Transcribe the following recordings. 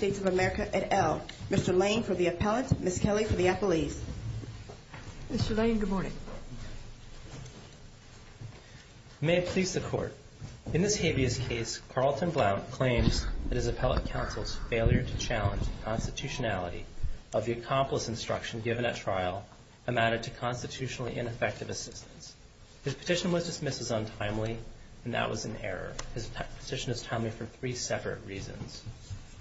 of America, et al. Mr. Lane for the appellant, Ms. Kelly for the appellees. Mr. Lane, good morning. May it please the Court. In this habeas case, Carlton Blount claims that his appellate counsel's failure to challenge the constitutionality of the accomplice instruction given at trial amounted to constitutionally ineffective assistance. His petition was dismissed as untimely, and that was an error. His petition is timely for three separate reasons.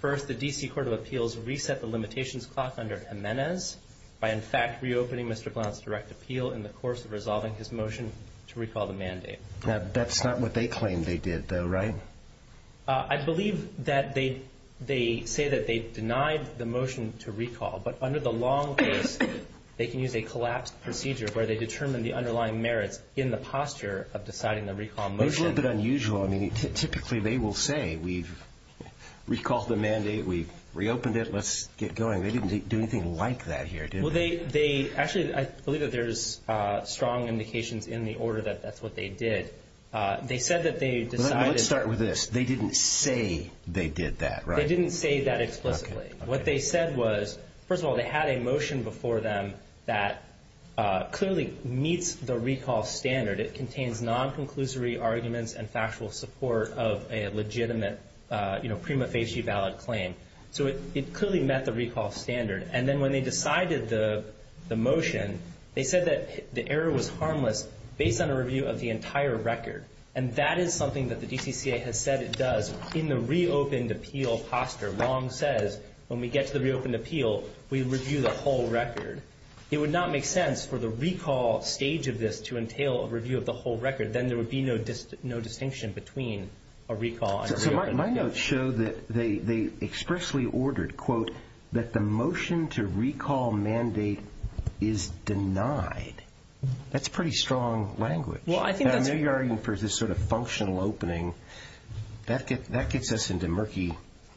First, the D.C. Court of Appeals reset the limitations clock under Jimenez by, in fact, reopening Mr. Blount's direct appeal in the course of resolving his motion to recall the mandate. That's not what they claimed they did, though, right? I believe that they say that they denied the motion to recall, but under the long case, they can use a collapsed procedure where they determine the underlying merits in the posture of deciding the recall motion. That's a little bit unusual. I mean, typically they will say, we've recalled the mandate, we've reopened it, let's get going. They didn't do anything like that here, did they? Well, they actually I believe that there's strong indications in the order that that's what they did. They said that they decided... Let's start with this. They didn't say they did that, right? They didn't say that explicitly. What they said was, first of all, they had a motion before them that clearly meets the recall standard. It contains non-conclusory arguments and factual support of a legitimate prima facie valid claim. So it clearly met the recall standard. And then when they decided the motion, they said that the error was harmless based on a review of the entire record. And that is something that the DCCA has said it does in the reopened appeal posture. Long says, when we get to the reopened appeal, we review the whole record. It would not make sense for the recall stage of this to entail a review of the whole record. Then there would be no distinction between a recall and a reopened appeal. So my notes show that they expressly ordered, quote, that the motion to recall mandate is denied. That's pretty strong language. I know you're arguing for this sort of functional opening. That gets us into murky...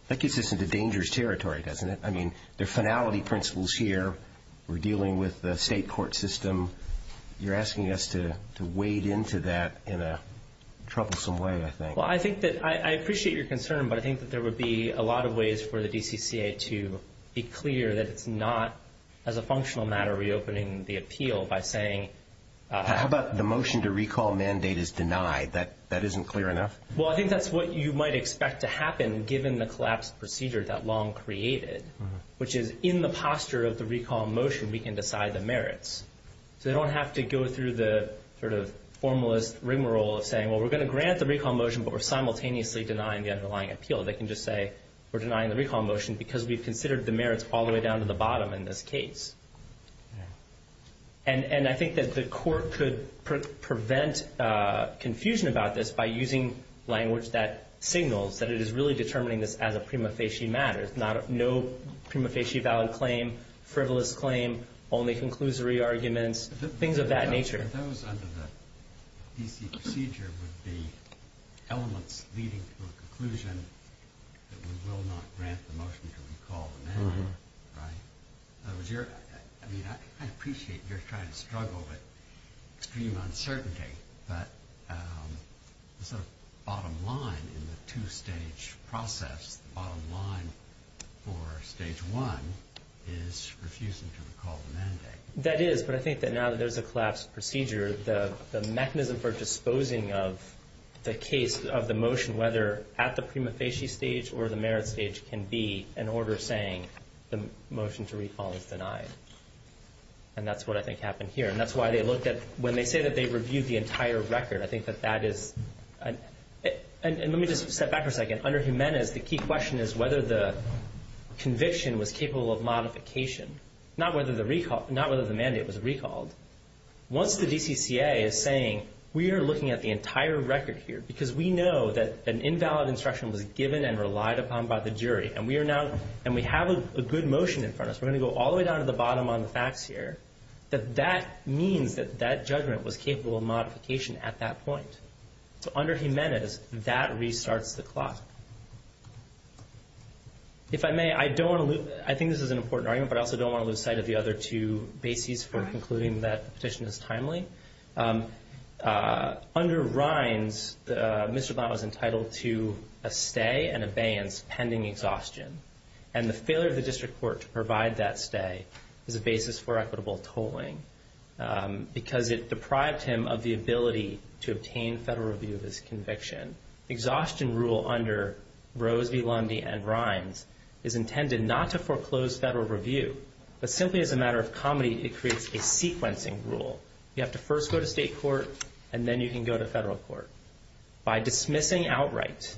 That gets us into dangerous territory, doesn't it? I mean, there are finality principles here. We're dealing with the state court system. You're asking us to wade into that in a troublesome way, I think. Well, I appreciate your concern, but I think that there would be a lot of ways for the DCCA to be clear that it's not, as a functional matter, reopening the appeal by saying... How about the motion to recall mandate is denied? That isn't clear enough? Well, I think that's what you might expect to happen, given the collapsed procedure that Long created, which is, in the posture of the recall motion, we can decide the merits. So they don't have to go through the sort of formalist rigmarole of saying, well, we're going to grant the recall motion, but we're simultaneously denying the underlying appeal. They can just say, we're denying the recall motion because we've considered the merits all the way down to the bottom in this case. And I think that the court could prevent confusion about this by using language that signals that it is really determining this as a prima facie matter, no prima facie valid claim, frivolous claim, only conclusory arguments, things of that nature. I mean, I appreciate you're trying to struggle with extreme uncertainty, but the sort of bottom line in the two-stage process, the bottom line for stage one is refusing to recall the mandate. That is, but I think that now that there's a collapsed procedure, the mechanism for disposing of the case of the motion, whether at the prima facie stage or the merits stage, can be an order saying the motion to recall is denied. And that's what I think happened here. And that's why they looked at, when they say that they reviewed the entire record, I think that that is, and let me just step back for a second. Under Jimenez, the key question is whether the conviction was capable of modification, not whether the mandate was recalled. Once the DCCA is saying, we are looking at the entire record here, because we know that an invalid instruction was given and relied upon by the jury, and we are now, and we have a good motion in front of us, we're going to go all the way down to the bottom on the facts here, that that means that that judgment was capable of modification at that point. So under Jimenez, that restarts the clock. If I may, I don't want to lose, I think this is an important argument, but I also don't want to lose sight of the other two bases for concluding that the petition is timely. Under Rines, Mr. Blount was entitled to a stay and abeyance pending exhaustion. And the failure of the district court to provide that stay is a basis for equitable tolling, because it deprived him of the ability to obtain federal review of his conviction. Exhaustion rule under Rose v. Lundy and Rines is intended not to foreclose federal review, but simply as a matter of comedy, it creates a sequencing rule. You have to first go to state court, and then you can go to federal court. By dismissing outright,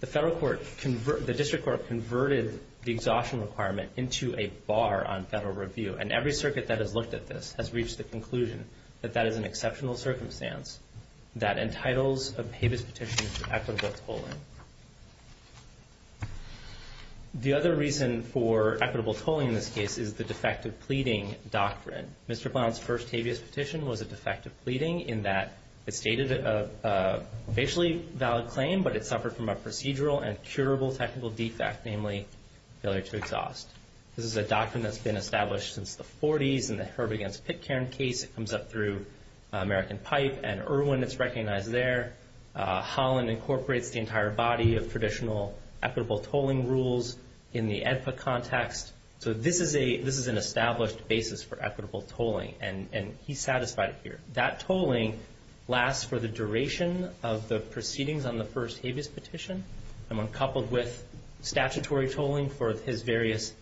the district court converted the exhaustion requirement into a bar on federal review, and every circuit that has looked at this has reached the conclusion that that is an exceptional circumstance that entitles a habeas petition to equitable tolling. The other reason for equitable tolling in this case is the defective pleading doctrine. Mr. Blount's first habeas petition was a defective pleading in that it stated a basically valid claim, but it suffered from a procedural and curable technical defect, namely failure to exhaust. This is a doctrine that's been established since the 40s in the Herb against Pitcairn case. It comes up through American Pipe and Irwin. It's recognized there. Holland incorporates the entire body of traditional equitable tolling rules in the EDPA context. So this is an established basis for equitable tolling, and he's satisfied here. That tolling lasts for the duration of the proceedings on the first habeas petition, and when coupled with statutory tolling for his various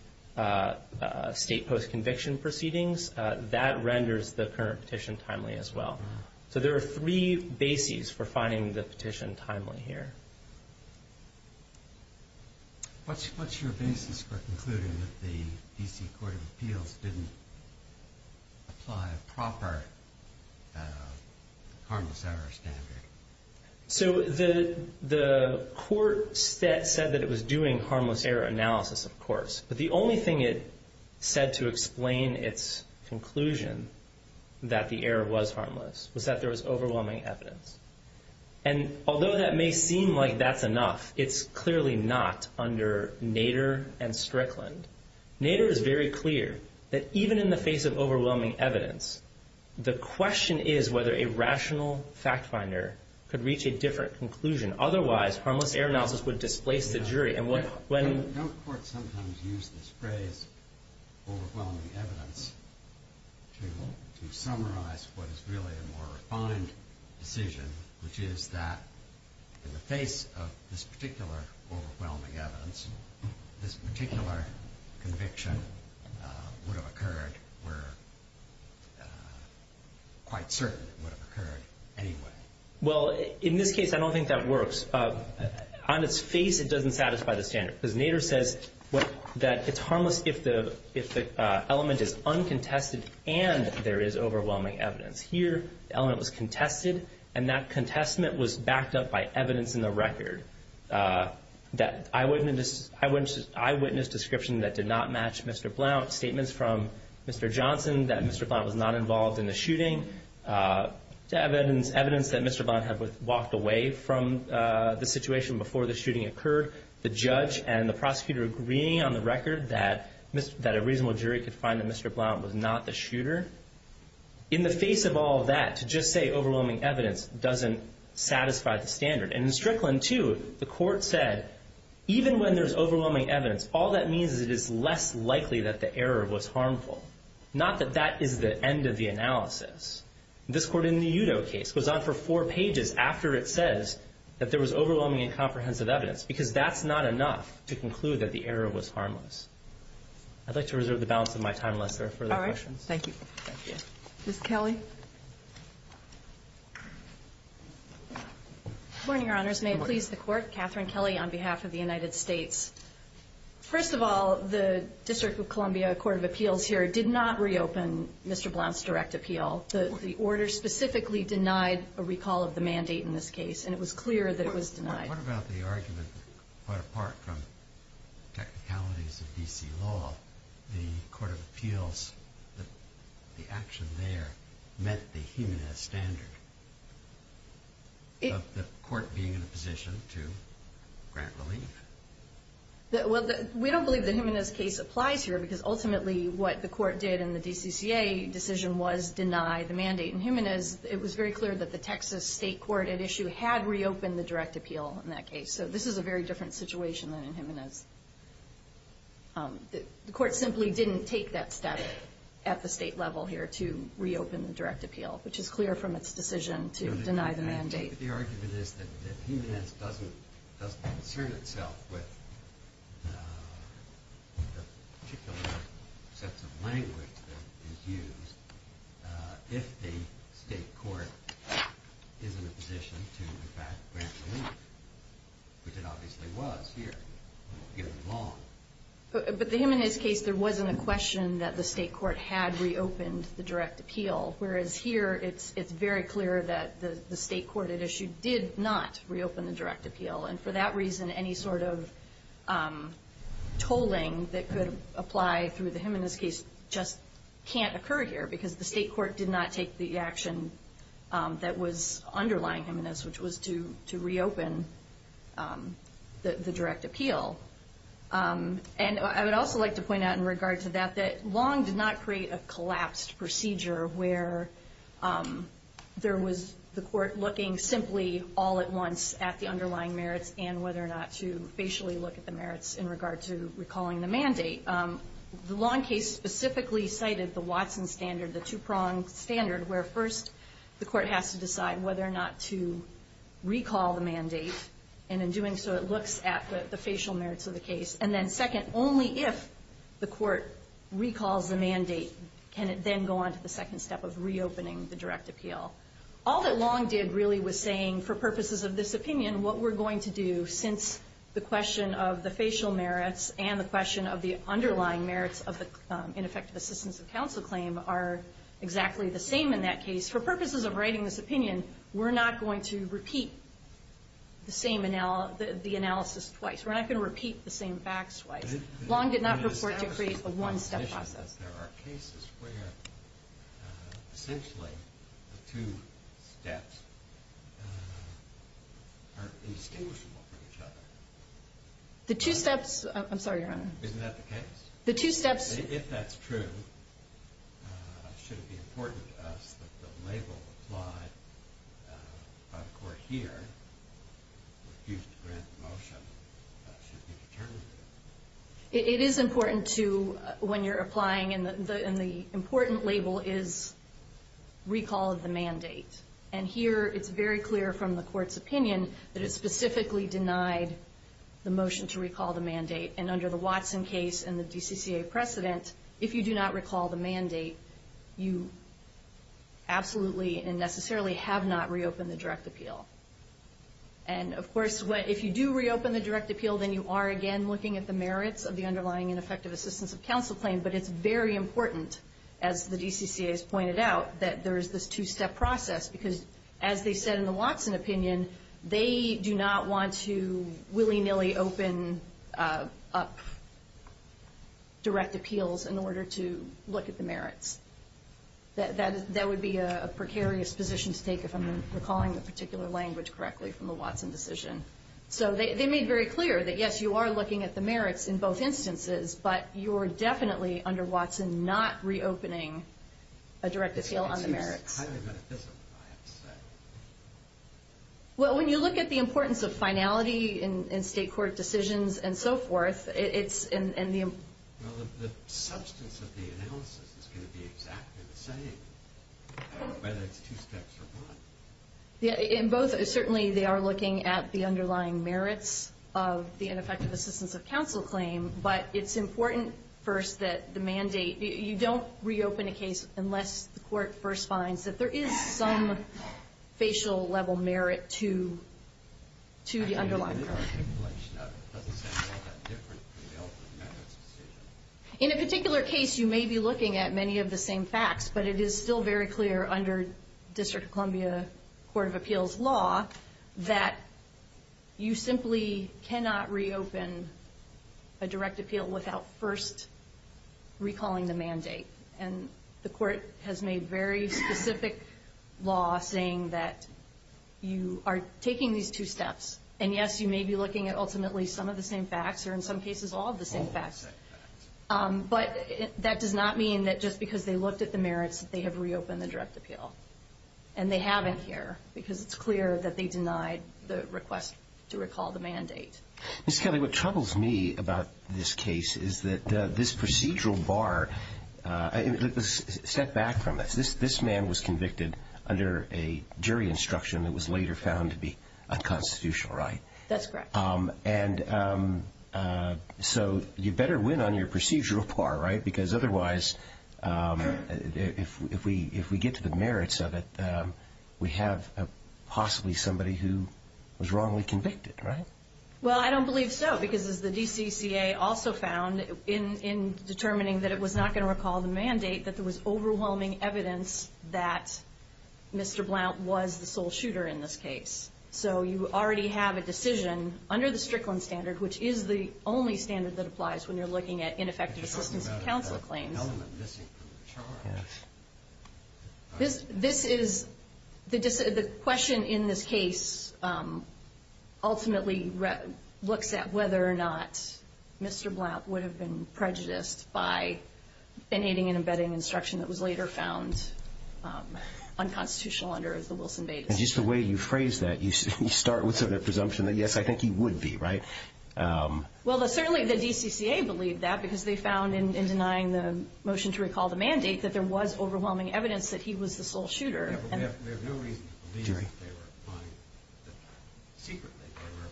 state post-conviction proceedings, that renders the current petition timely as well. So there are three bases for finding the petition timely here. What's your basis for concluding that the D.C. Court of Appeals didn't apply a proper harmless error standard? So the court said that it was doing harmless error analysis, of course, but the only thing it said to explain its conclusion that the error was harmless was that there was overwhelming evidence. And although that may seem like that's enough, it's clearly not under Nader and Strickland. Nader is very clear that even in the face of overwhelming evidence, the question is whether a rational factfinder could reach a different conclusion. Otherwise, harmless error sometimes use this phrase, overwhelming evidence, to summarize what is really a more refined decision, which is that in the face of this particular overwhelming evidence, this particular conviction would have occurred were quite certain it would have occurred anyway. Well, in this case I don't think that works. On its face it doesn't satisfy the argument that it's harmless if the element is uncontested and there is overwhelming evidence. Here the element was contested, and that contestment was backed up by evidence in the record. That eyewitness description that did not match Mr. Blount, statements from Mr. Johnson that Mr. Blount was not involved in the shooting, evidence that Mr. Blount had walked away from the situation before the shooting occurred, the judge and the prosecutor agreeing on the record that a reasonable jury could find that Mr. Blount was not the shooter. In the face of all that, to just say overwhelming evidence doesn't satisfy the standard. And in Strickland, too, the court said even when there's overwhelming evidence, all that means is it is less likely that the error was harmful. Not that that is the end of the analysis. This court in the Udo case goes on for four pages after it says that there was overwhelming and comprehensive evidence, because that's not enough to conclude that the error was harmless. I'd like to reserve the balance of my time unless there are further questions. Ms. Kelly. Good morning, Your Honors. May it please the Court? Good morning. Catherine Kelly on behalf of the United States. First of all, the District of Columbia Court of Appeals here did not reopen Mr. Blount's direct appeal. The order specifically denied a recall of the mandate in this case, and it was clear that it was denied. What about the argument that, apart from technicalities of D.C. law, the Court of Appeals, the action there met the Jimenez standard? The Court being in a position to grant relief? Well, we don't believe the Jimenez case applies here, because ultimately what the Court did in the DCCA decision was deny the mandate in Jimenez. It was very clear that the Texas state court at issue had reopened the direct appeal in that case. So this is a very different situation than in Jimenez. The Court simply didn't take that step at the state level here to reopen the direct appeal, which is clear from its decision to deny the mandate. But the argument is that Jimenez doesn't concern itself with the particular sets of language that is used if the state court is in a position to grant relief. But the Jimenez case, there wasn't a question that the state court had reopened the direct appeal, whereas here it's very clear that the state court at issue did not reopen the direct appeal. And for that reason, any sort of tolling that could apply through the Jimenez case just can't occur here, because the state court did not take the action that was underlying Jimenez, which was to reopen the direct appeal. And I would also like to point out in regard to that, that Long did not create a collapsed procedure where there was the Court looking simply all at once at the underlying merits and whether or not to facially look at the merits in regard to recalling the mandate. The Long case specifically cited the Watson standard, the two-pronged standard, where first the Court has to decide whether or not to do something so it looks at the facial merits of the case, and then second, only if the Court recalls the mandate can it then go on to the second step of reopening the direct appeal. All that Long did really was saying, for purposes of this opinion, what we're going to do since the question of the facial merits and the question of the underlying merits of the ineffective assistance of counsel claim are exactly the same in that case. For purposes of writing this opinion, we're not going to repeat the same analysis twice. We're not going to repeat the same facts twice. Long did not report to create a one-step process. There are cases where, essentially, the two steps are indistinguishable from each other. The two steps — I'm sorry, Your Honor. Isn't that the case? The two steps — If that's true, should it be important to us that the label applied by the Court here, refused to grant the motion, should be determined? It is important to, when you're applying, and the important label is recall of the mandate. And here, it's very clear from the Court's opinion that it specifically denied the motion to recall the mandate. And under the Watson case and the DCCA precedent, if you do not recall the mandate, you absolutely and necessarily have not reopened the direct appeal. And, of course, if you do reopen the direct appeal, then you are, again, looking at the merits of the underlying ineffective assistance of counsel claim. But it's very important, as the DCCA has pointed out, that there is this two-step process. Because, as they said in the Watson opinion, they do not want to willy-nilly open up direct appeals in order to look at the merits. That would be a precarious position to take if I'm recalling the particular language correctly from the Watson decision. So they made very clear that, yes, you are looking at the merits in both instances, but you are definitely, under Watson, not reopening a direct appeal on the merits. Well, when you look at the importance of finality in State court decisions and so forth, it's in the... Well, the substance of the analysis is going to be exactly the same, whether it's two steps or one. In both, certainly, they are looking at the underlying merits of the ineffective assistance of counsel claim. But it's important, first, that the mandate... You don't reopen a case unless the court first finds that there is some facial-level merit to the underlying... In a particular case, you may be looking at many of the same facts, but it is still very clear, under District of Columbia Court of Appeals law, that you simply cannot reopen a direct appeal without first recalling the mandate. And the court has made very specific law saying that you are taking these two steps. And, yes, you may be looking at ultimately some of the same facts or, in some cases, all of the same facts. But that does not mean that just because they looked at the merits that they have reopened the direct appeal. And they haven't here, because it's clear that they denied the request to recall the mandate. Ms. Kelly, what troubles me about this case is that this procedural bar... Let's step back from this. This man was convicted under a jury instruction that was later found to be unconstitutional, right? That's correct. And so you better win on your procedural bar, right? Because otherwise, if we get to the merits of it, we have possibly somebody who was wrongly convicted, right? Well, I don't believe so, because as the DCCA also found in determining that it was not going to recall the mandate, that there was overwhelming evidence that Mr. Blount was the sole shooter in this case. So you already have a decision under the Strickland standard, which is the only standard that applies when you're looking at ineffective assistance counsel claims. This is... The question in this case ultimately looks at whether or not Mr. Blount would have been prejudiced by in aiding and abetting instruction that was later found unconstitutional under the Wilson-Bates... And just the way you phrase that, you start with sort of a presumption that, yes, I think he would be, right? Well, certainly the DCCA believed that, because they found in denying the motion to recall the mandate that there was overwhelming evidence that he was the sole shooter. We have no reason to believe that they were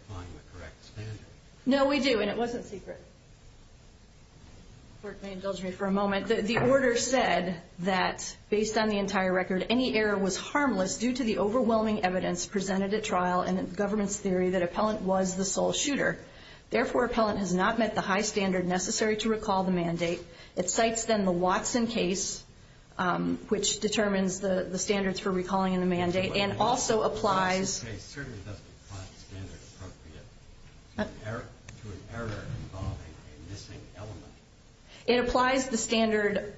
applying the correct standard. No, we do, and it wasn't secret. The Court may indulge me for a moment. The order said that, based on the entire record, any error was the sole shooter. Therefore, appellant has not met the high standard necessary to recall the mandate. It cites, then, the Watson case, which determines the standards for recalling in the mandate, and also applies... ...to an error involving a missing element. It applies the standard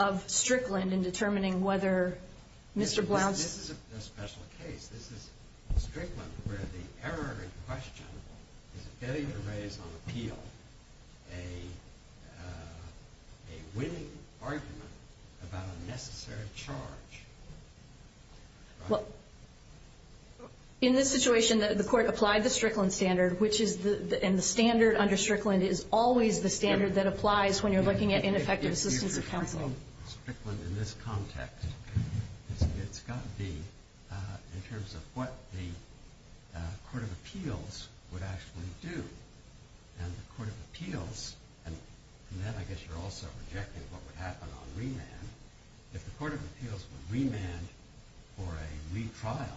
of Strickland in determining whether Mr. Blount... This is a special case. This is Strickland where the error in question is a failure to raise on appeal a winning argument about a necessary charge. Well, in this situation, the Court applied the Strickland standard, which is the... And the standard under Strickland is always the standard that applies when you're looking at ineffective assistance of counsel. ...in terms of what the Court of Appeals would actually do. And the Court of Appeals, and then I guess you're also rejecting what would happen on remand. If the Court of Appeals would remand for a retrial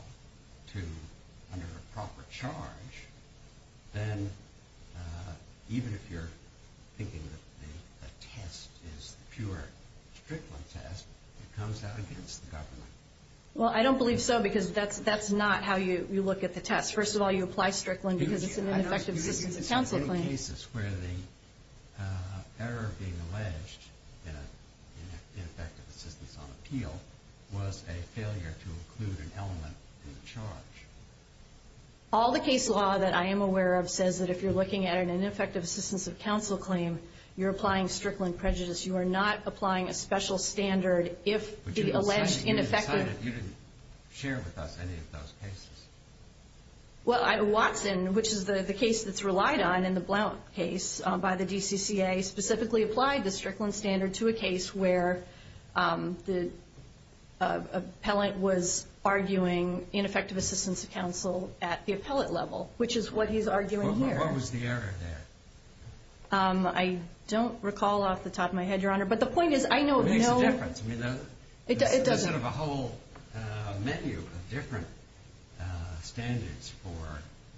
under a proper charge, then even if you're thinking that the test is pure Strickland test, it comes out against the government. Well, I don't believe so, because that's not how you look at the test. First of all, you apply Strickland because it's an ineffective assistance of counsel claim. ...in effective assistance on appeal was a failure to include an element in the charge. All the case law that I am aware of says that if you're looking at an ineffective assistance of counsel claim, you're applying Strickland prejudice. You are not applying a special standard if the alleged ineffective... But you decided you didn't share with us any of those cases. Well, Watson, which is the case that's relied on in the Blount case by the DCCA, specifically applied the Strickland standard to a case where the appellant was arguing ineffective assistance of counsel at the appellate level, which is what he's arguing here. Well, what was the error there? I don't recall off the top of my head, Your Honor, but the point is, I know... What makes the difference? I mean, does it have a whole menu of different standards for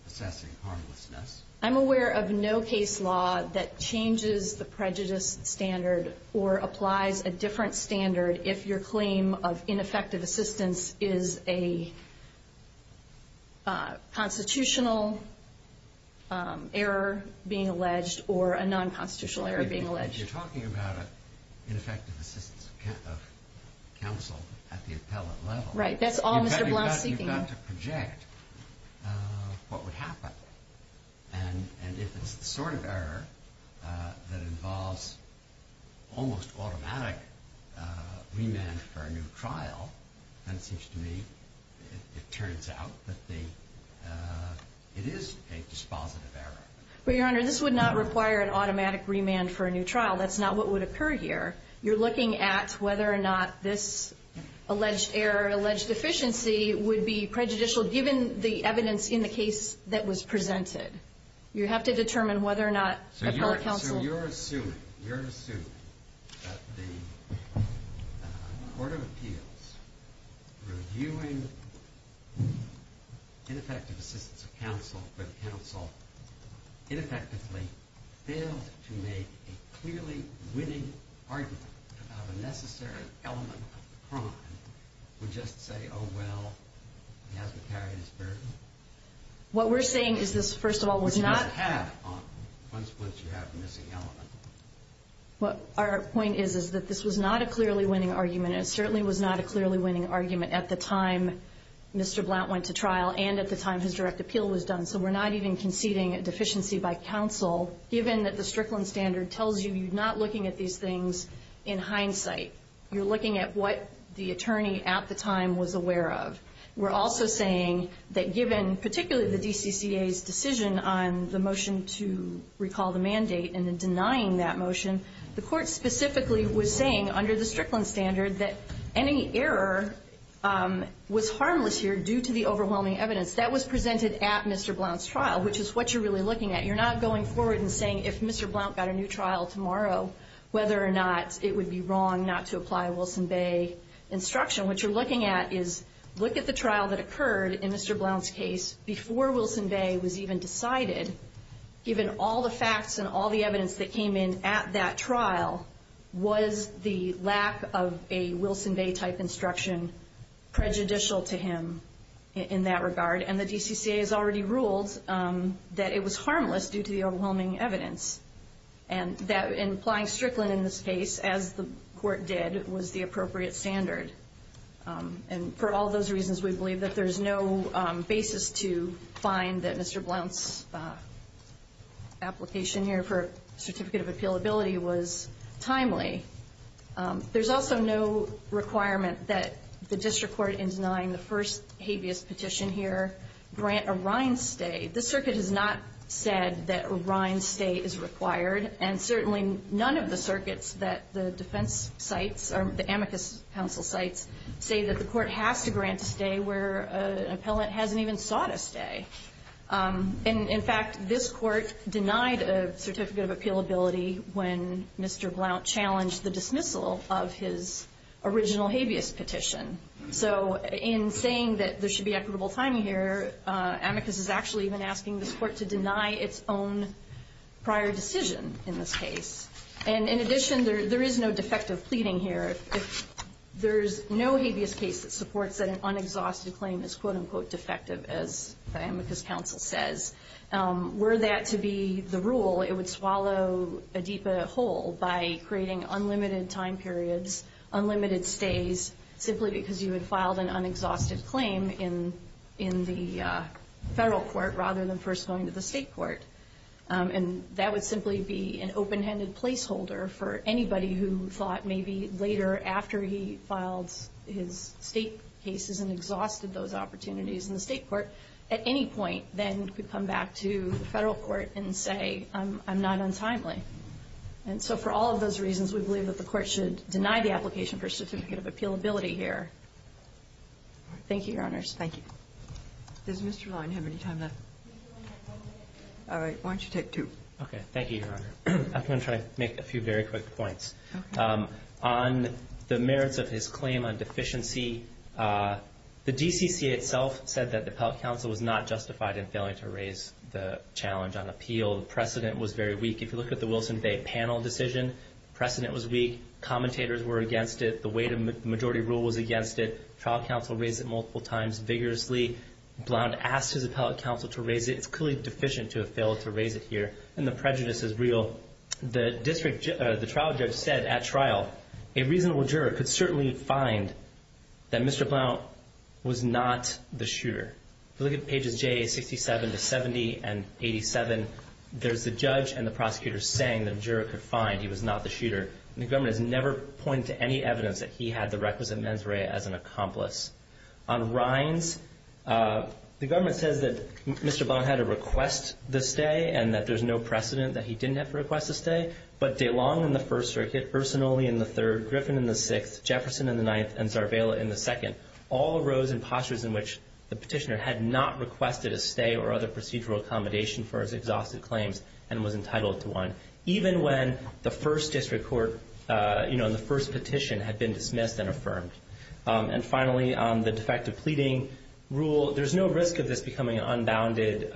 assessing harmlessness? I'm aware of no case law that changes the prejudice standard or applies a different standard if your claim of ineffective assistance is a constitutional error being alleged or a nonconstitutional error being alleged. You're talking about an ineffective assistance of counsel at the appellate level. Right. That's all Mr. Blount's seeking. You've got to project what would happen. And if it's the sort of error that involves almost automatic remand for a new trial, then it seems to me, it turns out that it is a dispositive error. But, Your Honor, this would not require an automatic remand for a new trial. That's not what would occur here. You're looking at whether or not this alleged error, alleged deficiency, would be prejudicial given the evidence in the case that was presented. You have to determine whether or not appellate counsel... So you're assuming, you're assuming that the Court of Appeals, reviewing ineffective assistance of counsel for the counsel, ineffectively failed to make a clearly winning argument about a necessary element of the crime, would just say, oh, well, he hasn't carried his burden? What we're saying is this, first of all, was not... Which he doesn't have once you have a missing element. Our point is that this was not a clearly winning argument. It certainly was not a clearly winning argument at the time Mr. Blount went to trial and at the time his direct appeal was done. So we're not even conceding a deficiency by counsel given that the Strickland standard tells you you're not looking at these things in hindsight. You're looking at what the attorney at the time was aware of. We're also saying that given particularly the DCCA's decision on the motion to recall the mandate and denying that motion, the Court specifically was saying under the overwhelming evidence, that was presented at Mr. Blount's trial, which is what you're really looking at. You're not going forward and saying if Mr. Blount got a new trial tomorrow, whether or not it would be wrong not to apply a Wilson Bay instruction. What you're looking at is look at the trial that occurred in Mr. Blount's case before Wilson Bay was even decided. Given all the facts and all the evidence that came in at that trial, was the lack of a Wilson Bay type instruction prejudicial to him in that regard? And the DCCA has already ruled that it was harmless due to the overwhelming evidence. And that implying Strickland in this case, as the Court did, was the appropriate standard. And for all those reasons, we believe that there's no basis to find that Mr. Blount's application here for a certificate of appealability was timely. There's also no requirement that the district court, in denying the first habeas petition here, grant a Rhine stay. This circuit has not said that a Rhine stay is required. And certainly none of the circuits that the defense cites, or the amicus counsel cites, say that the Court has to grant a stay where an appellant hasn't even sought a stay. And in fact, this Court denied a certificate of appealability when Mr. Blount challenged the dismissal of his original habeas petition. So in saying that there should be equitable timing here, amicus is actually even asking this Court to deny its own prior decision in this case. And in addition, there is no defective pleading here. If there's no habeas case that supports that an unexhausted claim is quote-unquote defective, as the amicus counsel says, were that to be the rule, it would swallow a deep hole by creating unlimited time periods, unlimited stays, simply because you had filed an unexhausted claim in the federal court rather than first going to the state court. And that would simply be an open-handed placeholder for anybody who thought maybe later, after he filed his state cases and exhausted those opportunities in the state court, at any point then could come back to the federal court and say, I'm not untimely. And so for all of those reasons, we believe that the Court should deny the application for a certificate of appealability here. Thank you, Your Honors. Thank you. Does Mr. Rhine have any time left? All right. Why don't you take two? Okay. Thank you, Your Honor. I'm going to try to make a few very quick points. Okay. On the merits of his claim on deficiency, the DCCA itself said that the appellate counsel was not justified in failing to raise the challenge on appeal. The precedent was very weak. If you look at the Wilson Bay panel decision, precedent was weak, commentators were against it, the weight of the majority rule was against it, trial counsel raised it multiple times vigorously. Blount asked his appellate counsel to raise it. It's clearly deficient to have failed to raise it here, and the prejudice is real. The trial judge said at trial, a reasonable juror could certainly find that Mr. Blount was not the shooter. If you look at pages J, 67 to 70 and 87, there's the judge and the prosecutor saying the juror could find he was not the shooter. The government has never pointed to any evidence that he had the requisite mens rea as an accomplice. On Reins, the government says that Mr. Blount had to request the stay and that there's no precedent that he didn't have to request a stay, but DeLong in the First Circuit, Ursinoli in the Third, Griffin in the Sixth, Jefferson in the Ninth, and Zarvella in the Second, all arose in postures in which the petitioner had not requested a stay or other procedural accommodation for his exhausted claims and was entitled to one, even when the first district court, you know, and the first petition had been dismissed and affirmed. And finally, on the defective pleading rule, there's no risk of this becoming an unbounded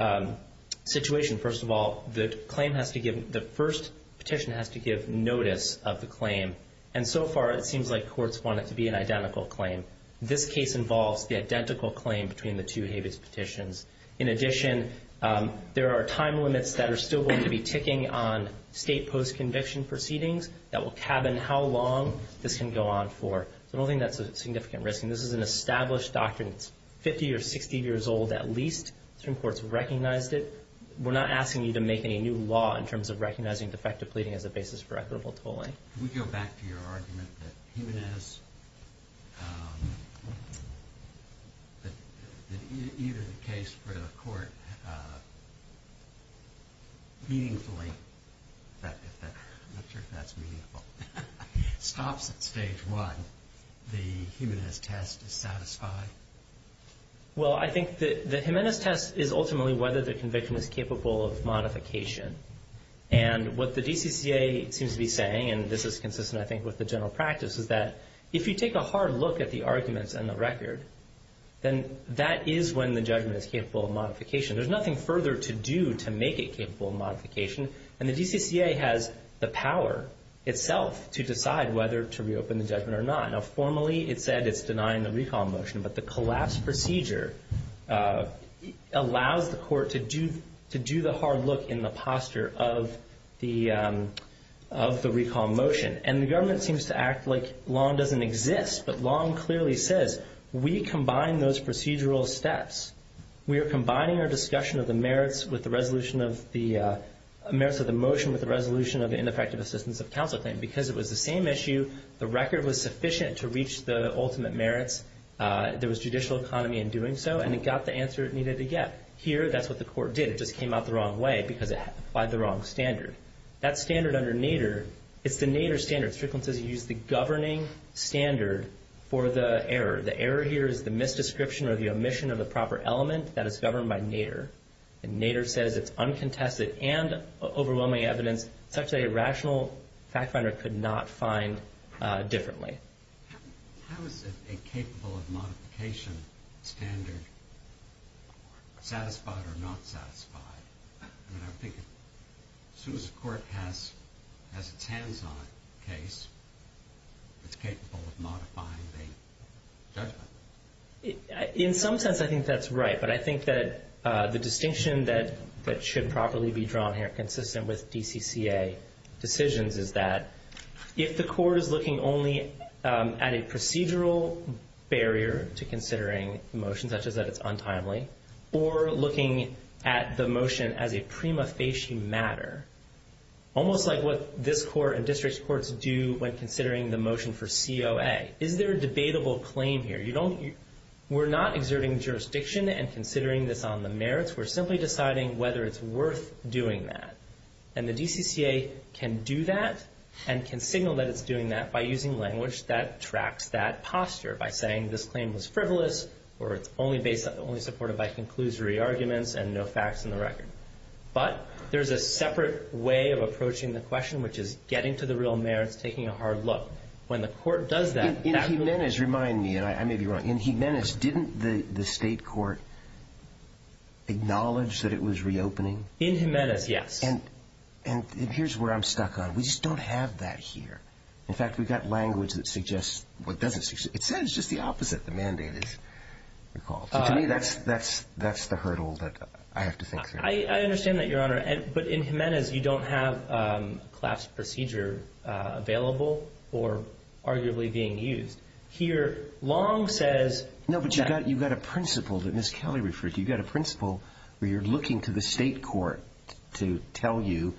situation. First of all, the claim has to give, the first petition has to give notice of the claim, and so far it seems like courts want it to be an identical claim. This case involves the identical claim between the two habeas petitions. In addition, there are time limits that are still going to be ticking on state post-conviction proceedings that will cabin how long this can go on for. So I don't think that's a significant risk. And this is an established doctrine. It's 50 or 60 years old at least. Certain courts have recognized it. We're not asking you to make any new law in terms of recognizing defective pleading as a basis for equitable tolling. Can we go back to your argument that Jimenez, that either the case for the one, the Jimenez test is satisfied? Well, I think the Jimenez test is ultimately whether the conviction is capable of modification. And what the DCCA seems to be saying, and this is consistent I think with the general practice, is that if you take a hard look at the arguments in the record, then that is when the judgment is capable of modification. There's nothing further to do to make it capable of modification. And the DCCA has the power itself to decide whether to reopen the judgment or not. Now formally it said it's denying the recall motion, but the collapse procedure allows the court to do the hard look in the posture of the recall motion. And the government seems to act like long doesn't exist, but long clearly says we combine those procedural steps. We are combining our discussion of the merits of the motion with the resolution of the ineffective assistance of counsel claim. Because it was the same issue, the record was sufficient to reach the ultimate merits, there was judicial economy in doing so, and it got the answer it needed to get. Here, that's what the court did. It just came out the wrong way because it applied the wrong standard. That standard under NADER, it's the NADER standard. Strickland says you use the governing standard for the error. The error here is the misdescription or the omission of the proper element that is governed by NADER. And NADER says it's uncontested and overwhelming evidence such that a rational fact finder could not find differently. How is a capable of modification standard satisfied or not satisfied? I mean, I would think as soon as a court has its hands on a case, it's capable of modifying the judgment. In some sense, I think that's right. But I think that the distinction that should properly be drawn here consistent with DCCA decisions is that if the court is looking only at a procedural barrier to considering a motion such as that it's untimely or looking at the motion as a prima facie matter, almost like what this court and district courts do when considering the motion for COA, is there a debatable claim here? We're not exerting jurisdiction and considering this on the merits. We're simply deciding whether it's worth doing that. And the DCCA can do that and can signal that it's doing that by using language that tracks that posture, by saying this claim was frivolous or it's only supported by conclusory arguments and no facts in the record. But there's a separate way of approaching the question, which is getting to the real merits, taking a hard look. When the court does that, that would be the case. Acknowledge that it was reopening? In Jimenez, yes. And here's where I'm stuck on. We just don't have that here. In fact, we've got language that suggests what doesn't suggest. It says just the opposite. The mandate is recalled. To me, that's the hurdle that I have to think through. I understand that, Your Honor. But in Jimenez, you don't have a class procedure available or arguably being used. Here, Long says that you've got a principle that Ms. Kelly referred to. You've got a principle where you're looking to the state court to tell you,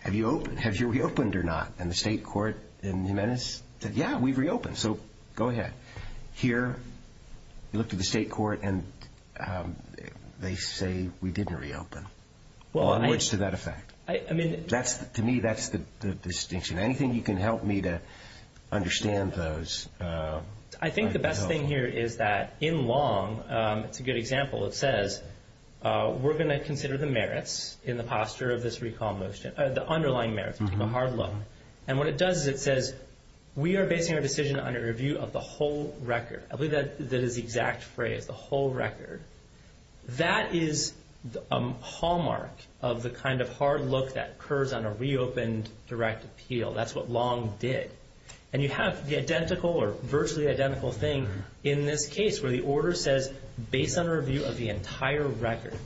have you reopened or not? And the state court in Jimenez said, yeah, we've reopened, so go ahead. Here, you look to the state court and they say we didn't reopen. Well, in words to that effect. To me, that's the distinction. Anything you can help me to understand those. I think the best thing here is that in Long, it's a good example. It says, we're going to consider the merits in the posture of this recall motion, the underlying merits, the hard look. And what it does is it says, we are basing our decision on a review of the whole record. I believe that is the exact phrase, the whole record. That is a hallmark of the kind of hard look that occurs on a reopened direct appeal. That's what Long did. And you have the identical or virtually identical thing in this case where the order says, based on a review of the entire record.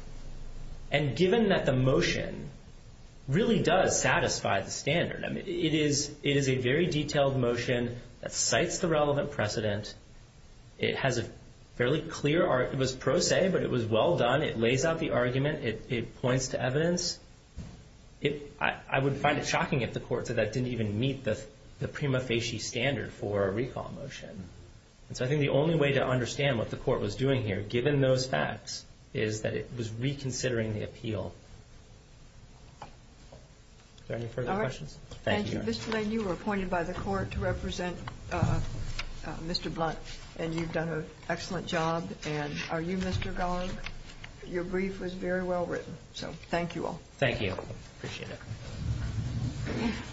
And given that the motion really does satisfy the standard, it is a very detailed motion that cites the relevant precedent. It has a fairly clear, it was pro se, but it was well done. It lays out the argument. It points to evidence. I would find it shocking if the court said that didn't even meet the prima facie standard for a recall motion. And so I think the only way to understand what the court was doing here, given those facts, is that it was reconsidering the appeal. Is there any further questions? Thank you, Your Honor. Thank you. Mr. Lane, you were appointed by the court to represent Mr. Blunt. And you've done an excellent job. And are you Mr. Garg? Your brief was very well written. So thank you all. Thank you. Appreciate it.